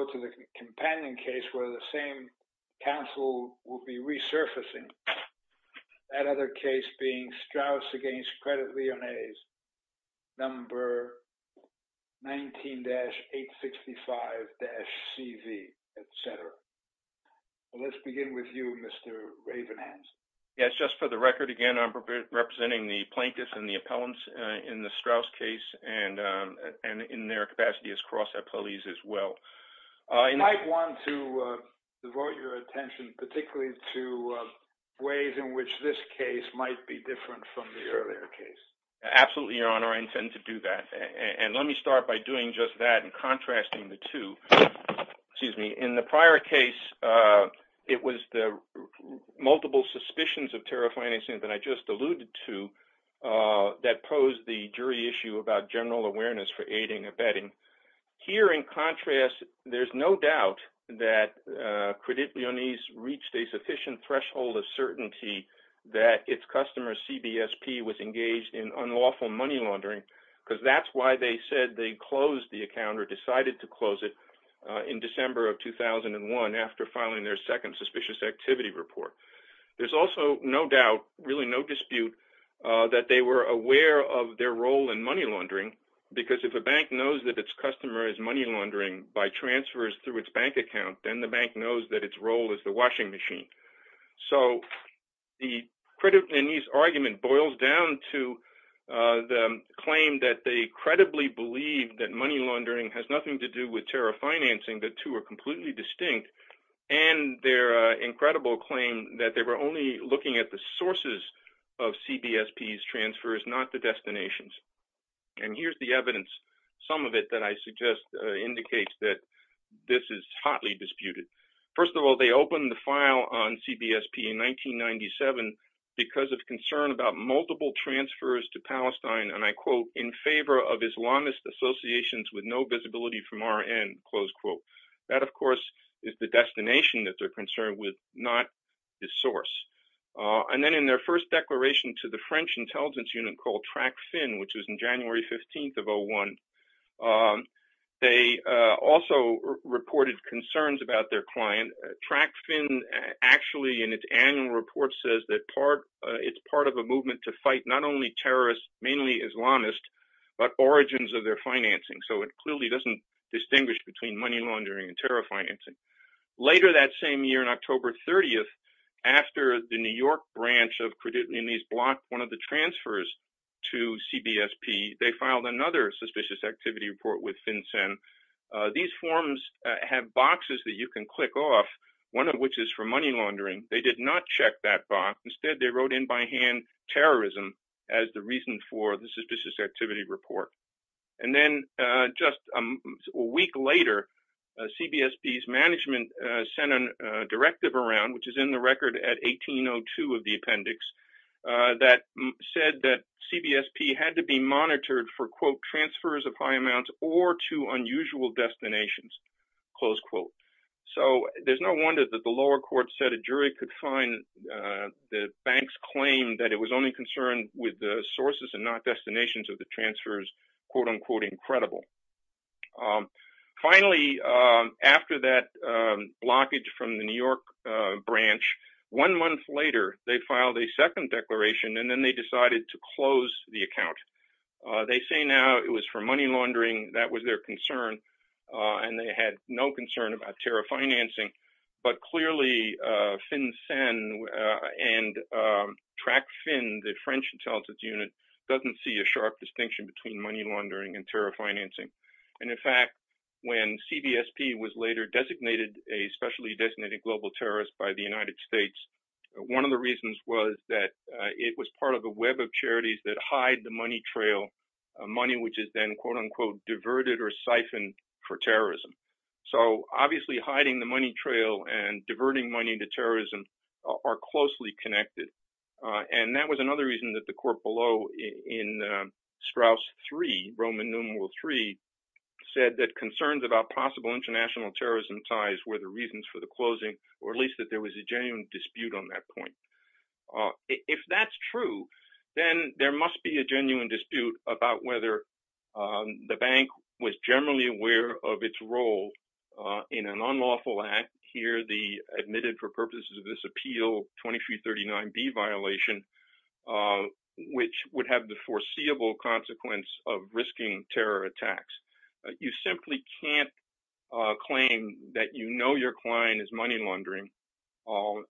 Credit Lyonnais S.A. Credit Lyonnais S.A. Credit Lyonnais S.A. Credit Lyonnais S.A. Credit Lyonnaise S.A. Credit Lyonnaise S.A. Credit Lyonnaise S.A. I might want to devote your attention particularly to ways in which this case might be different from the earlier case. Absolutely, Your Honor. I intend to do that. And let me start by doing just that and contrasting the two. Excuse me. In the prior case, it was the multiple suspicions of terror financing that I just alluded to that posed the jury issue about general awareness for aiding or abetting. Here in contrast, there's no doubt that Credit Lyonnaise reached a sufficient threshold of certainty that its customer CBSP was engaged in unlawful money laundering because that's why they said they closed the account or decided to close it in December of 2001 after filing their second suspicious activity report. There's also no doubt, really no dispute, that they were aware of their role in money laundering because if a bank knows that its customer is money laundering by transfers through its bank account, then the bank knows that its role is the washing machine. So the Credit Lyonnaise argument boils down to the claim that they credibly believe that money laundering has nothing to do with terror financing. The two are completely distinct. And their incredible claim that they were only looking at the sources of CBSP's transfers, not the destinations. And here's the evidence, some of it that I suggest indicates that this is hotly disputed. First of all, they opened the file on CBSP in 1997 because of concern about multiple transfers to Palestine, and I quote, in favor of Islamist associations with no visibility from our end, close quote. That, of course, is the destination that they're concerned with, not the source. And then in their first declaration to the French intelligence unit called TRACFIN, which was in January 15th of 2001, they also reported concerns about their client. TRACFIN actually in its annual report says that it's part of a movement to fight not only terrorists, mainly Islamists, but origins of their financing. So it clearly doesn't distinguish between money laundering and terror financing. Later that same year, on October 30th, after the New York branch of Credit Limits blocked one of the transfers to CBSP, they filed another suspicious activity report with FinCEN. These forms have boxes that you can click off, one of which is for money laundering. They did not check that box. Instead, they wrote in by hand terrorism as the reason for the suspicious activity report. And then just a week later, CBSP's management sent a directive around, which is in the record at 1802 of the appendix, that said that CBSP had to be monitored for, quote, transfers of high amounts or to unusual destinations, close quote. So there's no wonder that the lower court said a jury could find the bank's claim that it was only concerned with the sources and not destinations of the transfers, quote, unquote, incredible. Finally, after that blockage from the New York branch, one month later, they filed a second declaration and then they decided to close the account. They say now it was for money laundering. That was their concern. And they had no concern about terror financing. But clearly FinCEN and TRACFIN, the French intelligence unit, doesn't see a sharp distinction between money laundering and terror financing. And in fact, when CBSP was later designated a specially designated global terrorist by the United States, one of the reasons was that it was part of a web of charities that hide the money trail, money which is then, quote, unquote, diverted or siphoned for terrorism. So obviously hiding the money trail and diverting money into terrorism are closely connected. And that was another reason that the court below in Straus 3, Roman numeral 3, said that concerns about possible international terrorism ties were the reasons for the closing, or at least that there was a genuine dispute on that point. If that's true, then there must be a genuine dispute about whether the bank was generally aware of its role in an unlawful act here, the admitted for purposes of this appeal 2339B violation, which would have the foreseeable consequence of risking terror attacks. You simply can't claim that you know your client is money laundering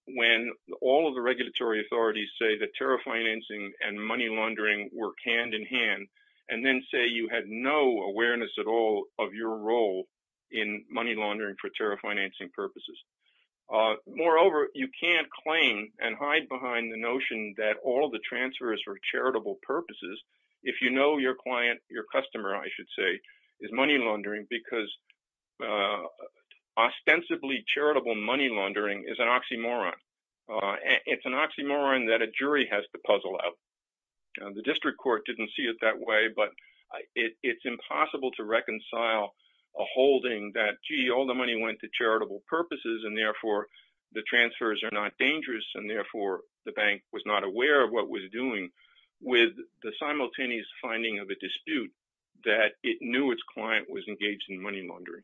when all of the regulatory authorities say that terror financing and money laundering work hand in hand, and then say you had no awareness at all of your role in money laundering for terror financing purposes. Moreover, you can't claim and hide behind the notion that all the transfers for charitable purposes, if you know your client, your customer, I should say, is money laundering because ostensibly charitable money laundering is an oxymoron. It's an oxymoron that a jury has to puzzle out. The district court didn't see it that way, but it's impossible to reconcile a holding that, gee, all the money went to charitable purposes, and therefore the transfers are not dangerous, and therefore the bank was not aware of what was doing with the simultaneous finding of a dispute that it knew its client was engaged in money laundering.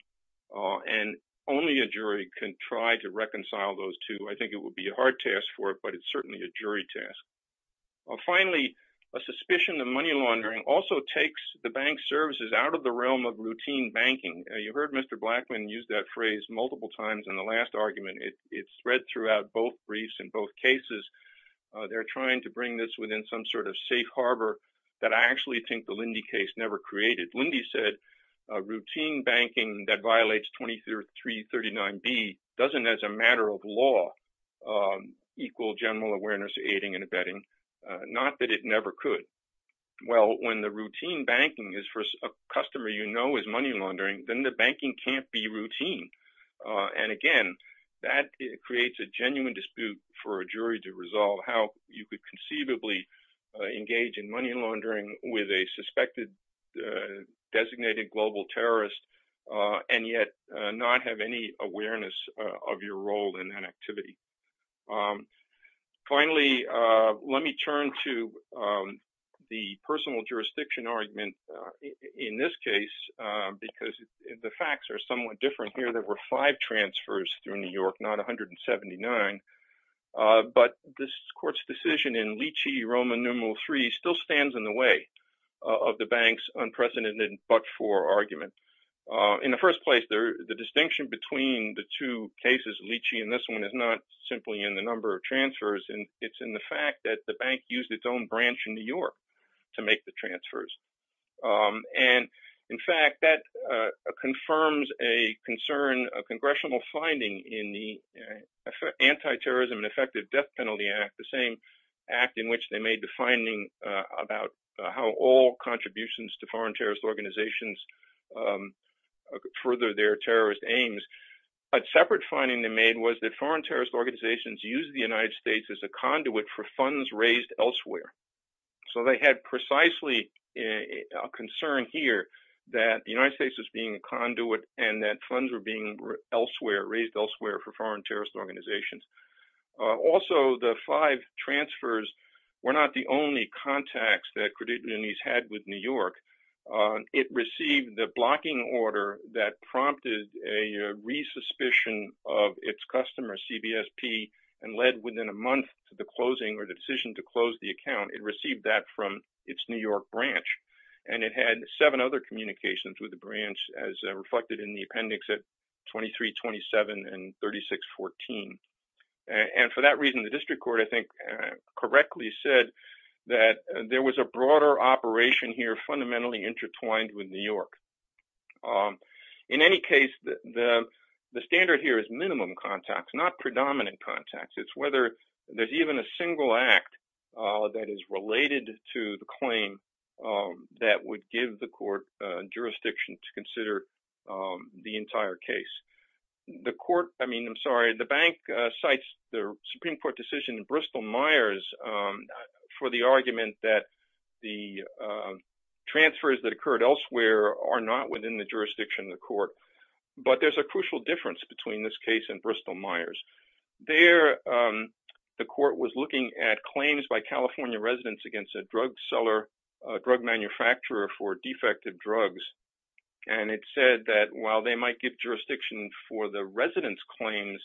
And only a jury can try to reconcile those two. I think it would be a hard task for it, but it's certainly a jury task. Finally, a suspicion of money laundering also takes the bank's services out of the realm of routine banking. You heard Mr. Blackman use that phrase multiple times in the last argument. It's read throughout both briefs in both cases. They're trying to bring this within some sort of safe harbor that I actually think the Lindy case never created. Lindy said routine banking that violates 2339B doesn't, as a matter of law, equal general awareness of aiding and abetting, not that it never could. Well, when the routine banking is for a customer you know is money laundering, then the banking can't be routine. And again, that creates a genuine dispute for a jury to resolve how you could conceivably engage in money laundering with a suspected designated global terrorist and yet not have any awareness of your role in that activity. Finally, let me turn to the personal jurisdiction argument in this case because the facts are somewhat different here. There were five transfers through New York, not 179, but this court's decision in Leachy-Roman numeral three still stands in the way of the bank's unprecedented but-for argument. In the first place, the distinction between the two cases, Leachy and this one, is not simply in the number of transfers. It's in the fact that the bank used its own branch in New York to make the transfers. And in fact, that confirms a concern, a congressional finding in the Anti-Terrorism and Effective Death Penalty Act, the same act in which they made the finding about how all contributions to foreign terrorist organizations further their terrorist aims. A separate finding they made was that foreign terrorist organizations use the United States as a conduit for funds raised elsewhere. So they had precisely a concern here that the United States was being a conduit and that funds were being raised elsewhere for foreign terrorist organizations. Also, the five transfers were not the only contacts that Credit Unionese had with New York. It received the blocking order that prompted a resuspicion of its customer, CBSP, and led within a month to the closing or the decision to close the account. It received that from its New York branch, and it had seven other communications with the branch as reflected in the appendix at 2327 and 3614. And for that reason, the district court, I think, correctly said that there was a broader operation here fundamentally intertwined with New York. In any case, the standard here is minimum contacts, not predominant contacts. It's whether there's even a single act that is related to the claim that would give the court jurisdiction to consider the entire case. The court, I mean, I'm sorry, the bank cites the Supreme Court decision in Bristol-Myers for the argument that the transfers that occurred elsewhere are not within the jurisdiction of the court. But there's a crucial difference between this case and Bristol-Myers. There, the court was looking at claims by California residents against a drug seller, a drug manufacturer for defective drugs. And it said that while they might give jurisdiction for the residents' claims,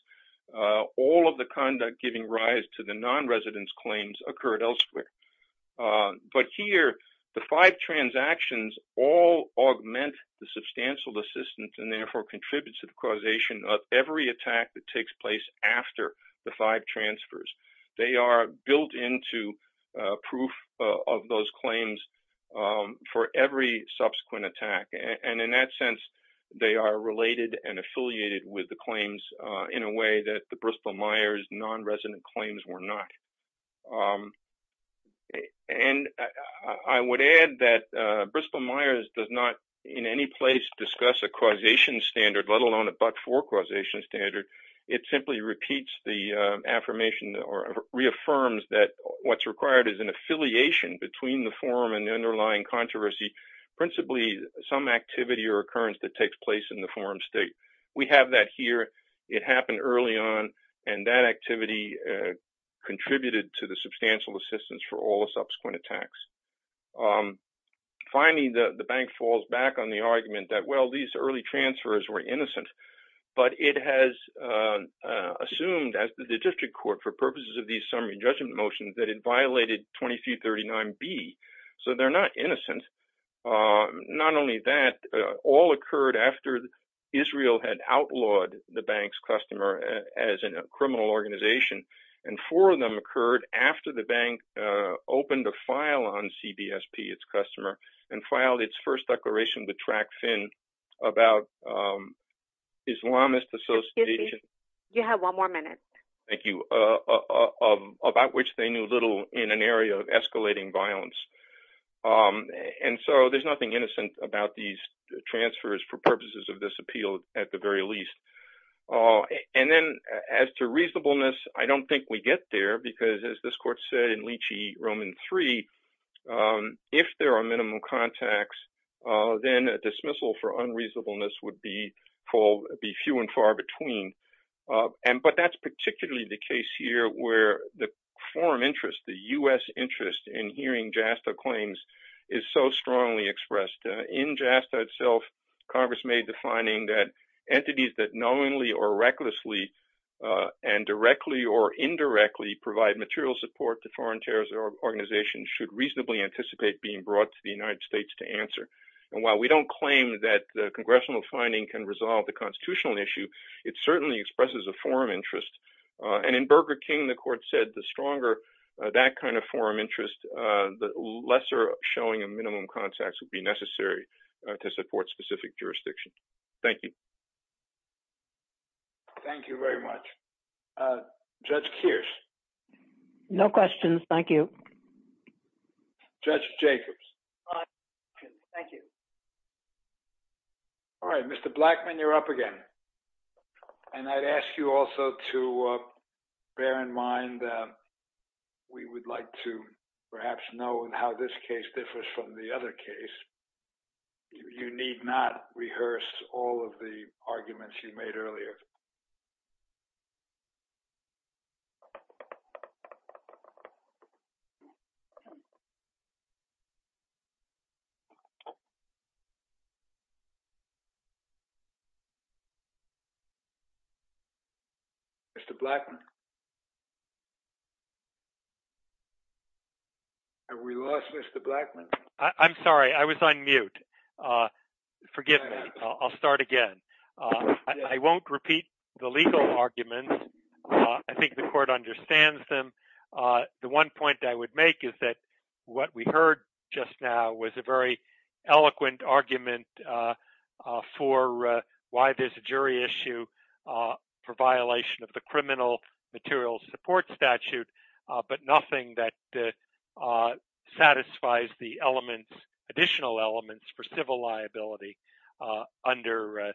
all of the conduct giving rise to the non-residents' claims occurred elsewhere. But here, the five transactions all augment the substantial assistance and therefore contributes to the causation of every attack that takes place after the five transfers. They are built into proof of those claims for every subsequent attack. And in that sense, they are related and affiliated with the claims in a way that the Bristol-Myers non-resident claims were not. And I would add that Bristol-Myers does not in any place discuss a causation standard, let alone a But-For causation standard. It simply repeats the affirmation or reaffirms that what's required is an affiliation between the forum and the underlying controversy, principally some activity or occurrence that takes place in the forum state. We have that here. It happened early on, and that activity contributed to the substantial assistance for all the subsequent attacks. Finally, the bank falls back on the argument that, well, these early transfers were innocent, but it has assumed, as did the district court, for purposes of these summary judgment motions, that it violated 2239B, so they're not innocent. And not only that, all occurred after Israel had outlawed the bank's customer as a criminal organization, and four of them occurred after the bank opened a file on CBSP, its customer, and filed its first declaration with TrackFin about Islamist association— Excuse me, you have one more minute. Thank you. —about which they knew little in an area of escalating violence. And so there's nothing innocent about these transfers for purposes of this appeal, at the very least. And then as to reasonableness, I don't think we get there, because as this court said in Leachy, Roman 3, if there are minimum contacts, then a dismissal for unreasonableness would be few and far between. But that's particularly the case here where the forum interest, the U.S. interest in hearing JASTA claims is so strongly expressed. In JASTA itself, Congress made the finding that entities that knowingly or recklessly and directly or indirectly provide material support to foreign terrorist organizations should reasonably anticipate being brought to the United States to answer. And while we don't claim that the congressional finding can resolve the constitutional issue, it certainly expresses a forum interest. And in Burger King, the court said the stronger that kind of forum interest, the lesser showing of minimum contacts would be necessary to support specific jurisdiction. Thank you. Thank you very much. Judge Kears. No questions. Thank you. Judge Jacobs. No questions. Thank you. All right. Mr. Blackman, you're up again. And I'd ask you also to bear in mind we would like to perhaps know how this case differs from the other case. You need not rehearse all of the arguments you made earlier. Mr. Blackman. Have we lost Mr. Blackman? I'm sorry. I was on mute. Forgive me. I'll start again. I won't repeat the legal argument. I think the court understands them. The one point I would make is that what we heard just now was a very eloquent argument for why there's a jury issue for violation of the criminal materials support statute. But nothing that satisfies the elements, additional elements for civil liability under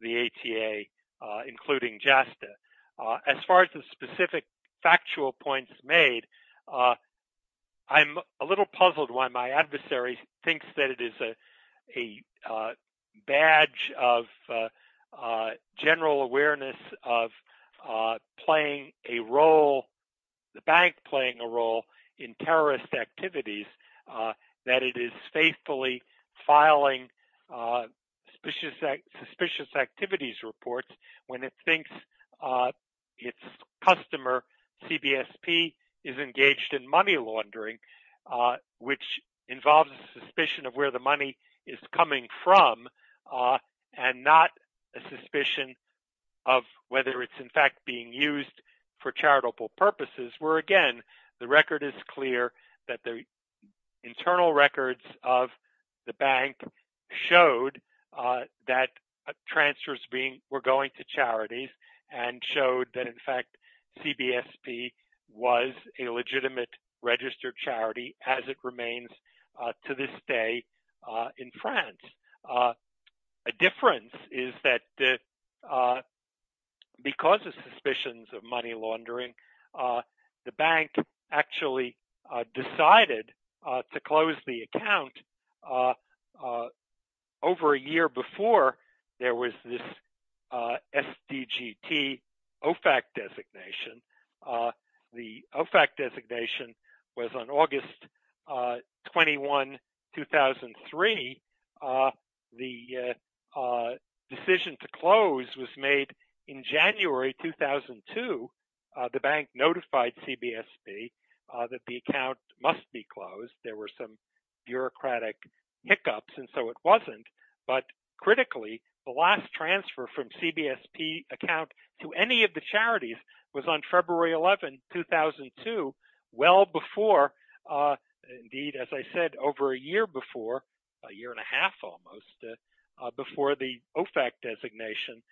the ATA, including JASTA. As far as the specific factual points made, I'm a little puzzled why my adversary thinks that it is a badge of general awareness of playing a role, the bank playing a role in terrorist activities, that it is faithfully filing suspicious activities reports when it thinks its customer, CBSP, is engaged in money laundering, which involves a suspicion of where the money is coming from and not a suspicion of whether it's in fact being used for charitable purposes, where, again, the record is clear that the internal records of the bank showed that transfers were going to charities and showed that, in fact, CBSP was a legitimate registered charity as it remains to this day in France. A difference is that because of suspicions of money laundering, the bank actually decided to close the account over a year before there was this SDGT OFAC designation. The OFAC designation was on August 21, 2003. The decision to close was made in January 2002. The bank notified CBSP that the account must be closed. There were some bureaucratic hiccups, and so it wasn't. But critically, the last transfer from CBSP account to any of the charities was on February 11, 2002, well before, indeed, as I said, over a year before, a year and a half almost, before the OFAC designation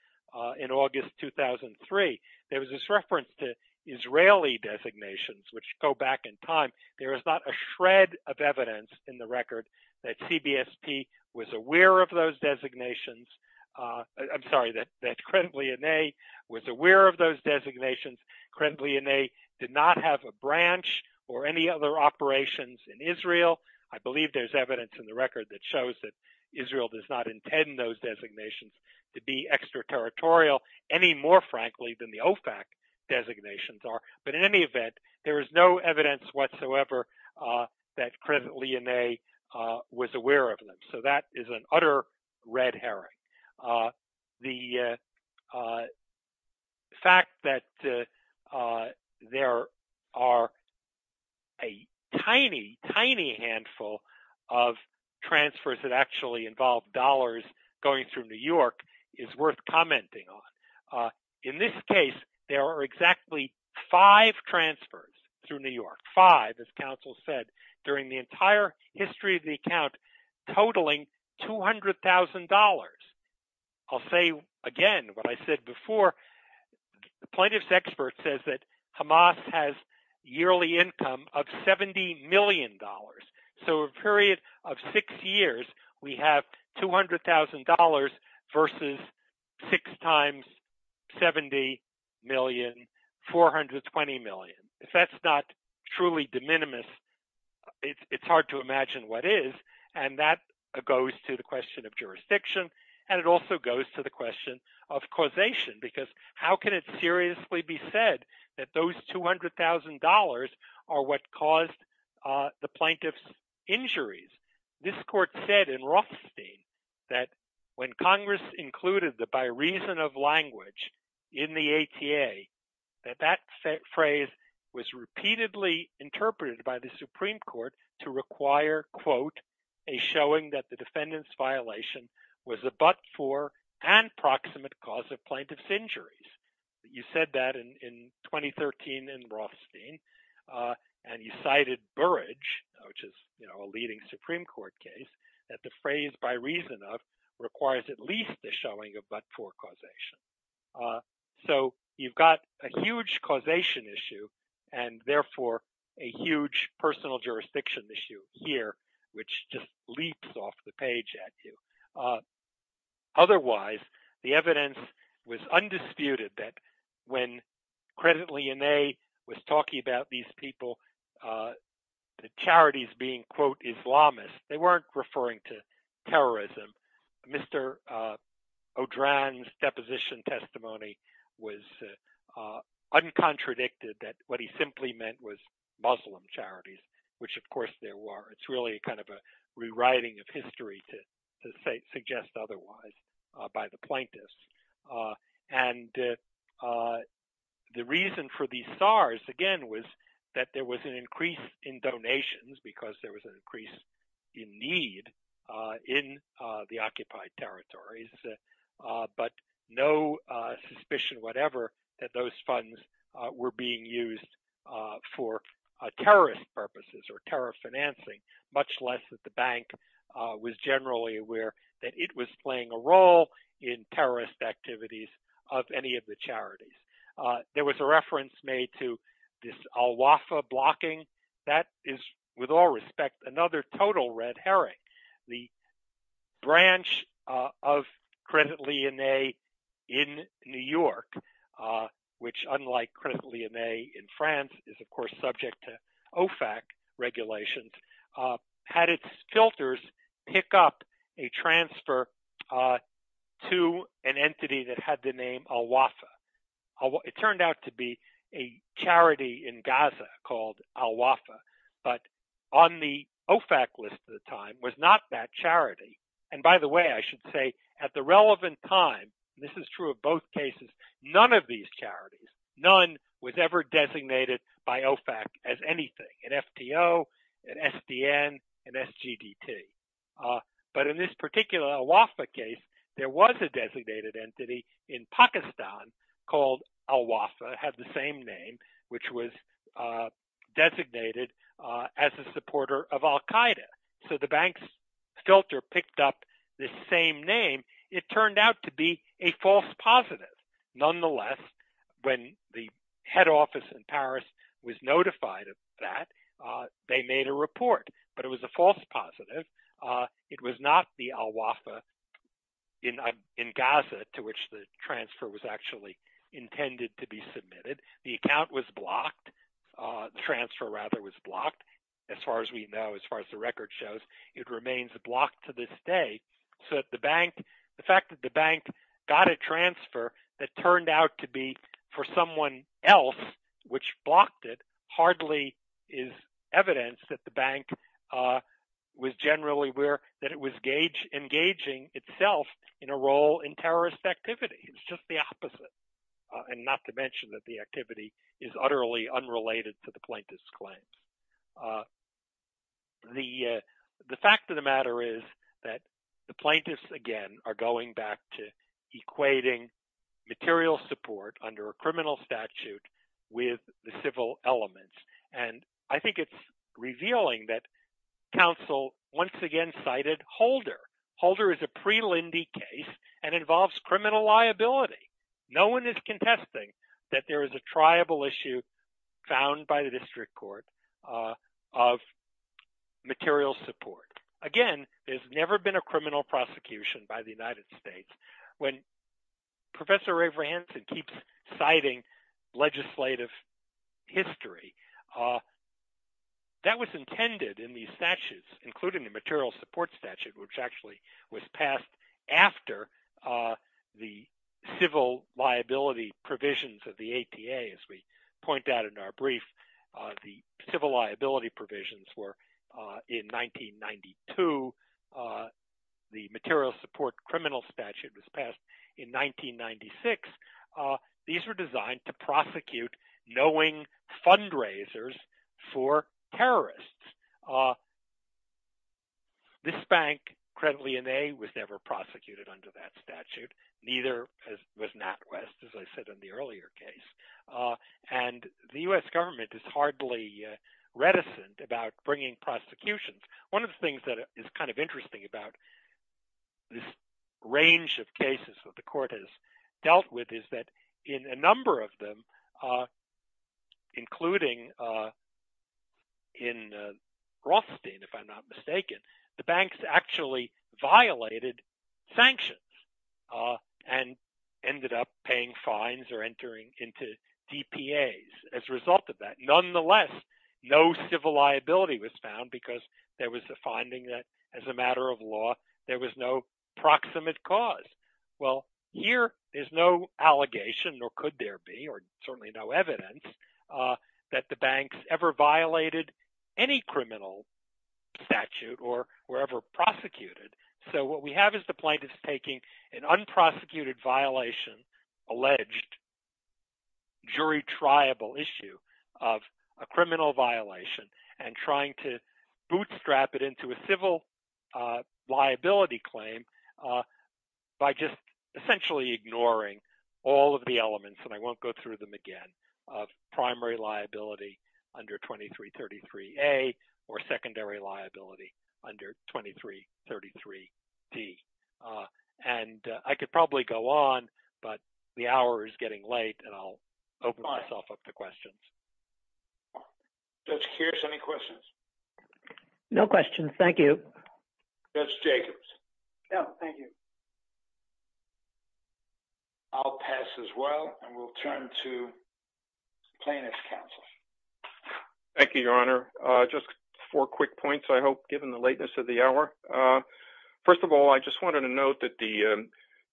in August 2003. There was this reference to Israeli designations, which go back in time. There is not a shred of evidence in the record that CBSP was aware of those designations. I'm sorry, that Cremlionet was aware of those designations. Cremlionet did not have a branch or any other operations in Israel. I believe there's evidence in the record that shows that Israel does not intend those designations to be extraterritorial any more, frankly, than the OFAC designations are. But in any event, there is no evidence whatsoever that Cremlionet was aware of them. So that is an utter red herring. The fact that there are a tiny, tiny handful of transfers that actually involve dollars going through New York is worth commenting on. In this case, there are exactly five transfers through New York, five, as counsel said, during the entire history of the account, totaling $200,000. I'll say again what I said before, the plaintiff's expert says that Hamas has yearly income of $70 million. So a period of six years, we have $200,000 versus six times $70 million, $420 million. If that's not truly de minimis, it's hard to imagine what is. And that goes to the question of jurisdiction. And it also goes to the question of causation, because how can it seriously be said that those $200,000 are what caused the plaintiff's injuries? This court said in Rothstein that when Congress included the by reason of language in the ATA, that that phrase was repeatedly interpreted by the Supreme Court to require, quote, a showing that the defendant's violation was a but-for and proximate cause of plaintiff's injuries. You said that in 2013 in Rothstein, and you cited Burrage, which is a leading Supreme Court case, that the phrase by reason of requires at least the showing of but-for causation. So you've got a huge causation issue and therefore a huge personal jurisdiction issue here, which just leaps off the page at you. Otherwise, the evidence was undisputed that when Credit Lyonnet was talking about these people, the charities being, quote, Islamists, they weren't referring to terrorism. Mr. O'Dran's deposition testimony was uncontradicted that what he simply meant was Muslim charities, which of course there were. It's really kind of a rewriting of history to suggest otherwise by the plaintiffs. And the reason for these SARs, again, was that there was an increase in donations because there was an increase in need in the occupied territories, but no suspicion whatever that those funds were being used for terrorist purposes or terror financing. Much less that the bank was generally aware that it was playing a role in terrorist activities of any of the charities. There was a reference made to this al-Wafa blocking. That is, with all respect, another total red herring. The branch of Credit Lyonnet in New York, which unlike Credit Lyonnet in France, is of course subject to OFAC regulations, had its filters pick up a transfer to an entity that had the name al-Wafa. It turned out to be a charity in Gaza called al-Wafa, but on the OFAC list at the time was not that charity. And by the way, I should say at the relevant time, this is true of both cases, none of these charities, none was ever designated by OFAC as anything, an FTO, an SDN, an SGDT. But in this particular al-Wafa case, there was a designated entity in Pakistan called al-Wafa, had the same name, which was designated as a supporter of al-Qaeda. So the bank's filter picked up the same name. It turned out to be a false positive. Nonetheless, when the head office in Paris was notified of that, they made a report, but it was a false positive. It was not the al-Wafa in Gaza to which the transfer was actually intended to be submitted. The account was blocked. The transfer rather was blocked. As far as we know, as far as the record shows, it remains blocked to this day. So the fact that the bank got a transfer that turned out to be for someone else, which blocked it, hardly is evidence that the bank was engaging itself in a role in terrorist activity. It's just the opposite. And not to mention that the activity is utterly unrelated to the plaintiff's claims. The fact of the matter is that the plaintiffs, again, are going back to equating material support under a criminal statute with the civil elements. And I think it's revealing that counsel once again cited Holder. Holder is a pre-Lindy case and involves criminal liability. No one is contesting that there is a triable issue found by the district court of material support. Again, there's never been a criminal prosecution by the United States. When Professor Avery Hanson keeps citing legislative history, that was intended in these statutes, including the material support statute, which actually was passed after the Civil Rights Act. The civil liability provisions of the ATA, as we point out in our brief, the civil liability provisions were in 1992. The material support criminal statute was passed in 1996. These were designed to prosecute knowing fundraisers for terrorists. This bank, credibly in a, was never prosecuted under that statute. Neither was NatWest, as I said in the earlier case. And the U.S. government is hardly reticent about bringing prosecutions. One of the things that is kind of interesting about this range of cases that the court has dealt with is that in a number of them, including in Rothstein, if I'm not mistaken, the banks actually violated sanctions and ended up paying fines or entering into DPAs as a result of that. Nonetheless, no civil liability was found because there was a finding that as a matter of law, there was no proximate cause. Well, here is no allegation, nor could there be, or certainly no evidence that the banks ever violated any criminal statute or were ever prosecuted. So what we have is the plaintiffs taking an unprosecuted violation, alleged jury triable issue of a criminal violation and trying to bootstrap it into a civil liability claim by just essentially ignoring all of the elements, and I won't go through them again, of primary liability under 2333A or secondary liability under 2333D. And I could probably go on, but the hour is getting late, and I'll open myself up to questions. Judge Kearse, any questions? No questions. Thank you. Judge Jacobs? No, thank you. I'll pass as well, and we'll turn to plaintiff's counsel. Thank you, Your Honor. Just four quick points, I hope, given the lateness of the hour. First of all, I just wanted to note that the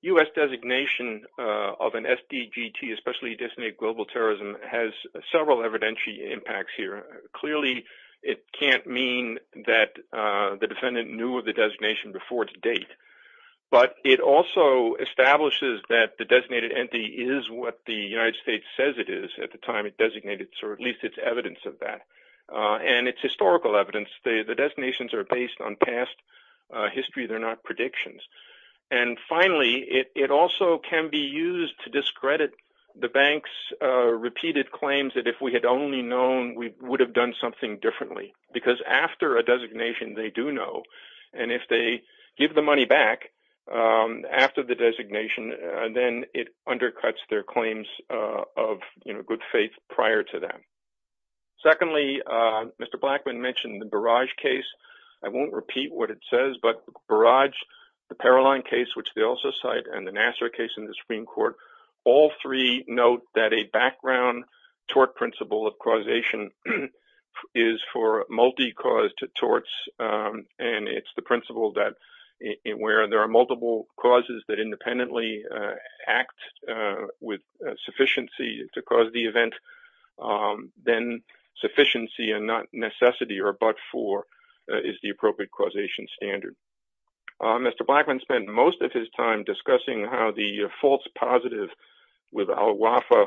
U.S. designation of an SDGT, especially designated global terrorism, has several evidentiary impacts here. Clearly, it can't mean that the defendant knew of the designation before its date, but it also establishes that the designated entity is what the United States says it is at the time it designated, or at least it's evidence of that, and it's historical evidence. The designations are based on past history. They're not predictions. And finally, it also can be used to discredit the bank's repeated claims that if we had only known, we would have done something differently, because after a designation, they do know, and if they give the money back after the designation, then it undercuts their claims of good faith prior to that. Secondly, Mr. Blackman mentioned the Barrage case. I won't repeat what it says, but Barrage, the Paroline case, which they also cite, and the Nassar case in the Supreme Court, all three note that a background tort principle of causation is for multi-caused torts, and it's the principle that where there are multiple causes that independently act with sufficiency to cause the event, then sufficiency and not necessity are but for is the appropriate causation standard. Mr. Blackman spent most of his time discussing how the false positive with Al Wafa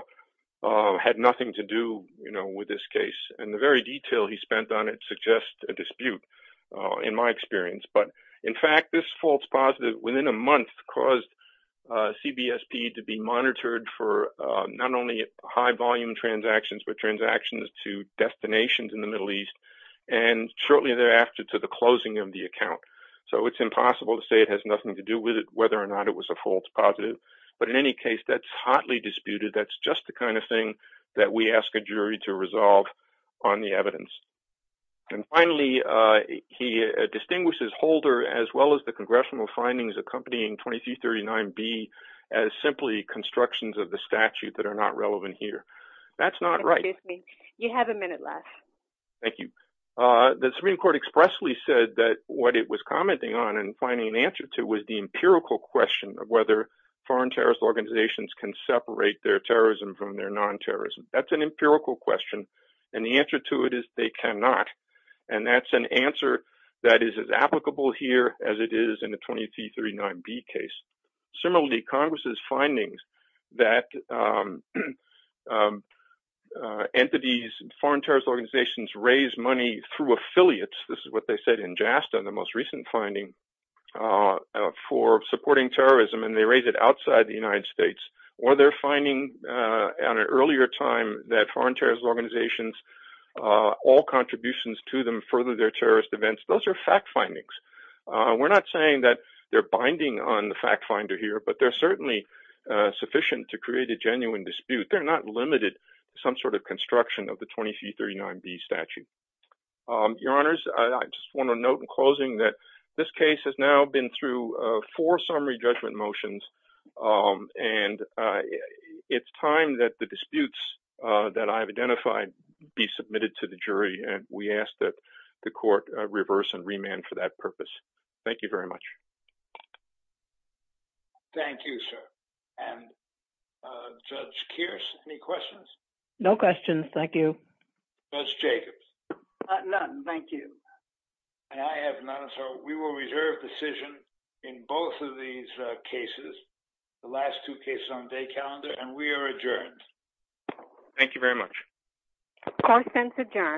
had nothing to do with this case, and the very detail he spent on it suggests a dispute in my experience. But in fact, this false positive within a month caused CBSP to be monitored for not only high volume transactions, but transactions to destinations in the Middle East, and shortly thereafter to the closing of the account. So it's impossible to say it has nothing to do with it, whether or not it was a false positive. But in any case, that's hotly disputed. That's just the kind of thing that we ask a jury to resolve on the evidence. And finally, he distinguishes Holder as well as the congressional findings accompanying 2339B as simply constructions of the statute that are not relevant here. That's not right. Excuse me. You have a minute left. Thank you. The Supreme Court expressly said that what it was commenting on and finding an answer to was the empirical question of whether foreign terrorist organizations can separate their terrorism from their non-terrorism. That's an empirical question. And the answer to it is they cannot. And that's an answer that is as applicable here as it is in the 2339B case. Similarly, Congress's findings that entities, foreign terrorist organizations raise money through affiliates, this is what they said in JASTA, the most recent finding, for supporting terrorism, and they raise it outside the United States. Or they're finding at an earlier time that foreign terrorist organizations, all contributions to them further their terrorist events. Those are fact findings. We're not saying that they're binding on the fact finder here, but they're certainly sufficient to create a genuine dispute. They're not limited to some sort of construction of the 2339B statute. Your Honors, I just want to note in closing that this case has now been through four summary judgment motions, and it's time that the disputes that I've identified be submitted to the jury, and we ask that the court reverse and remand for that purpose. Thank you very much. Thank you, sir. And Judge Kearse, any questions? No questions. Thank you. Judge Jacobs? None, thank you. And I have none, so we will reserve decision in both of these cases, the last two cases on the day calendar, and we are adjourned. Thank you very much. Court is adjourned.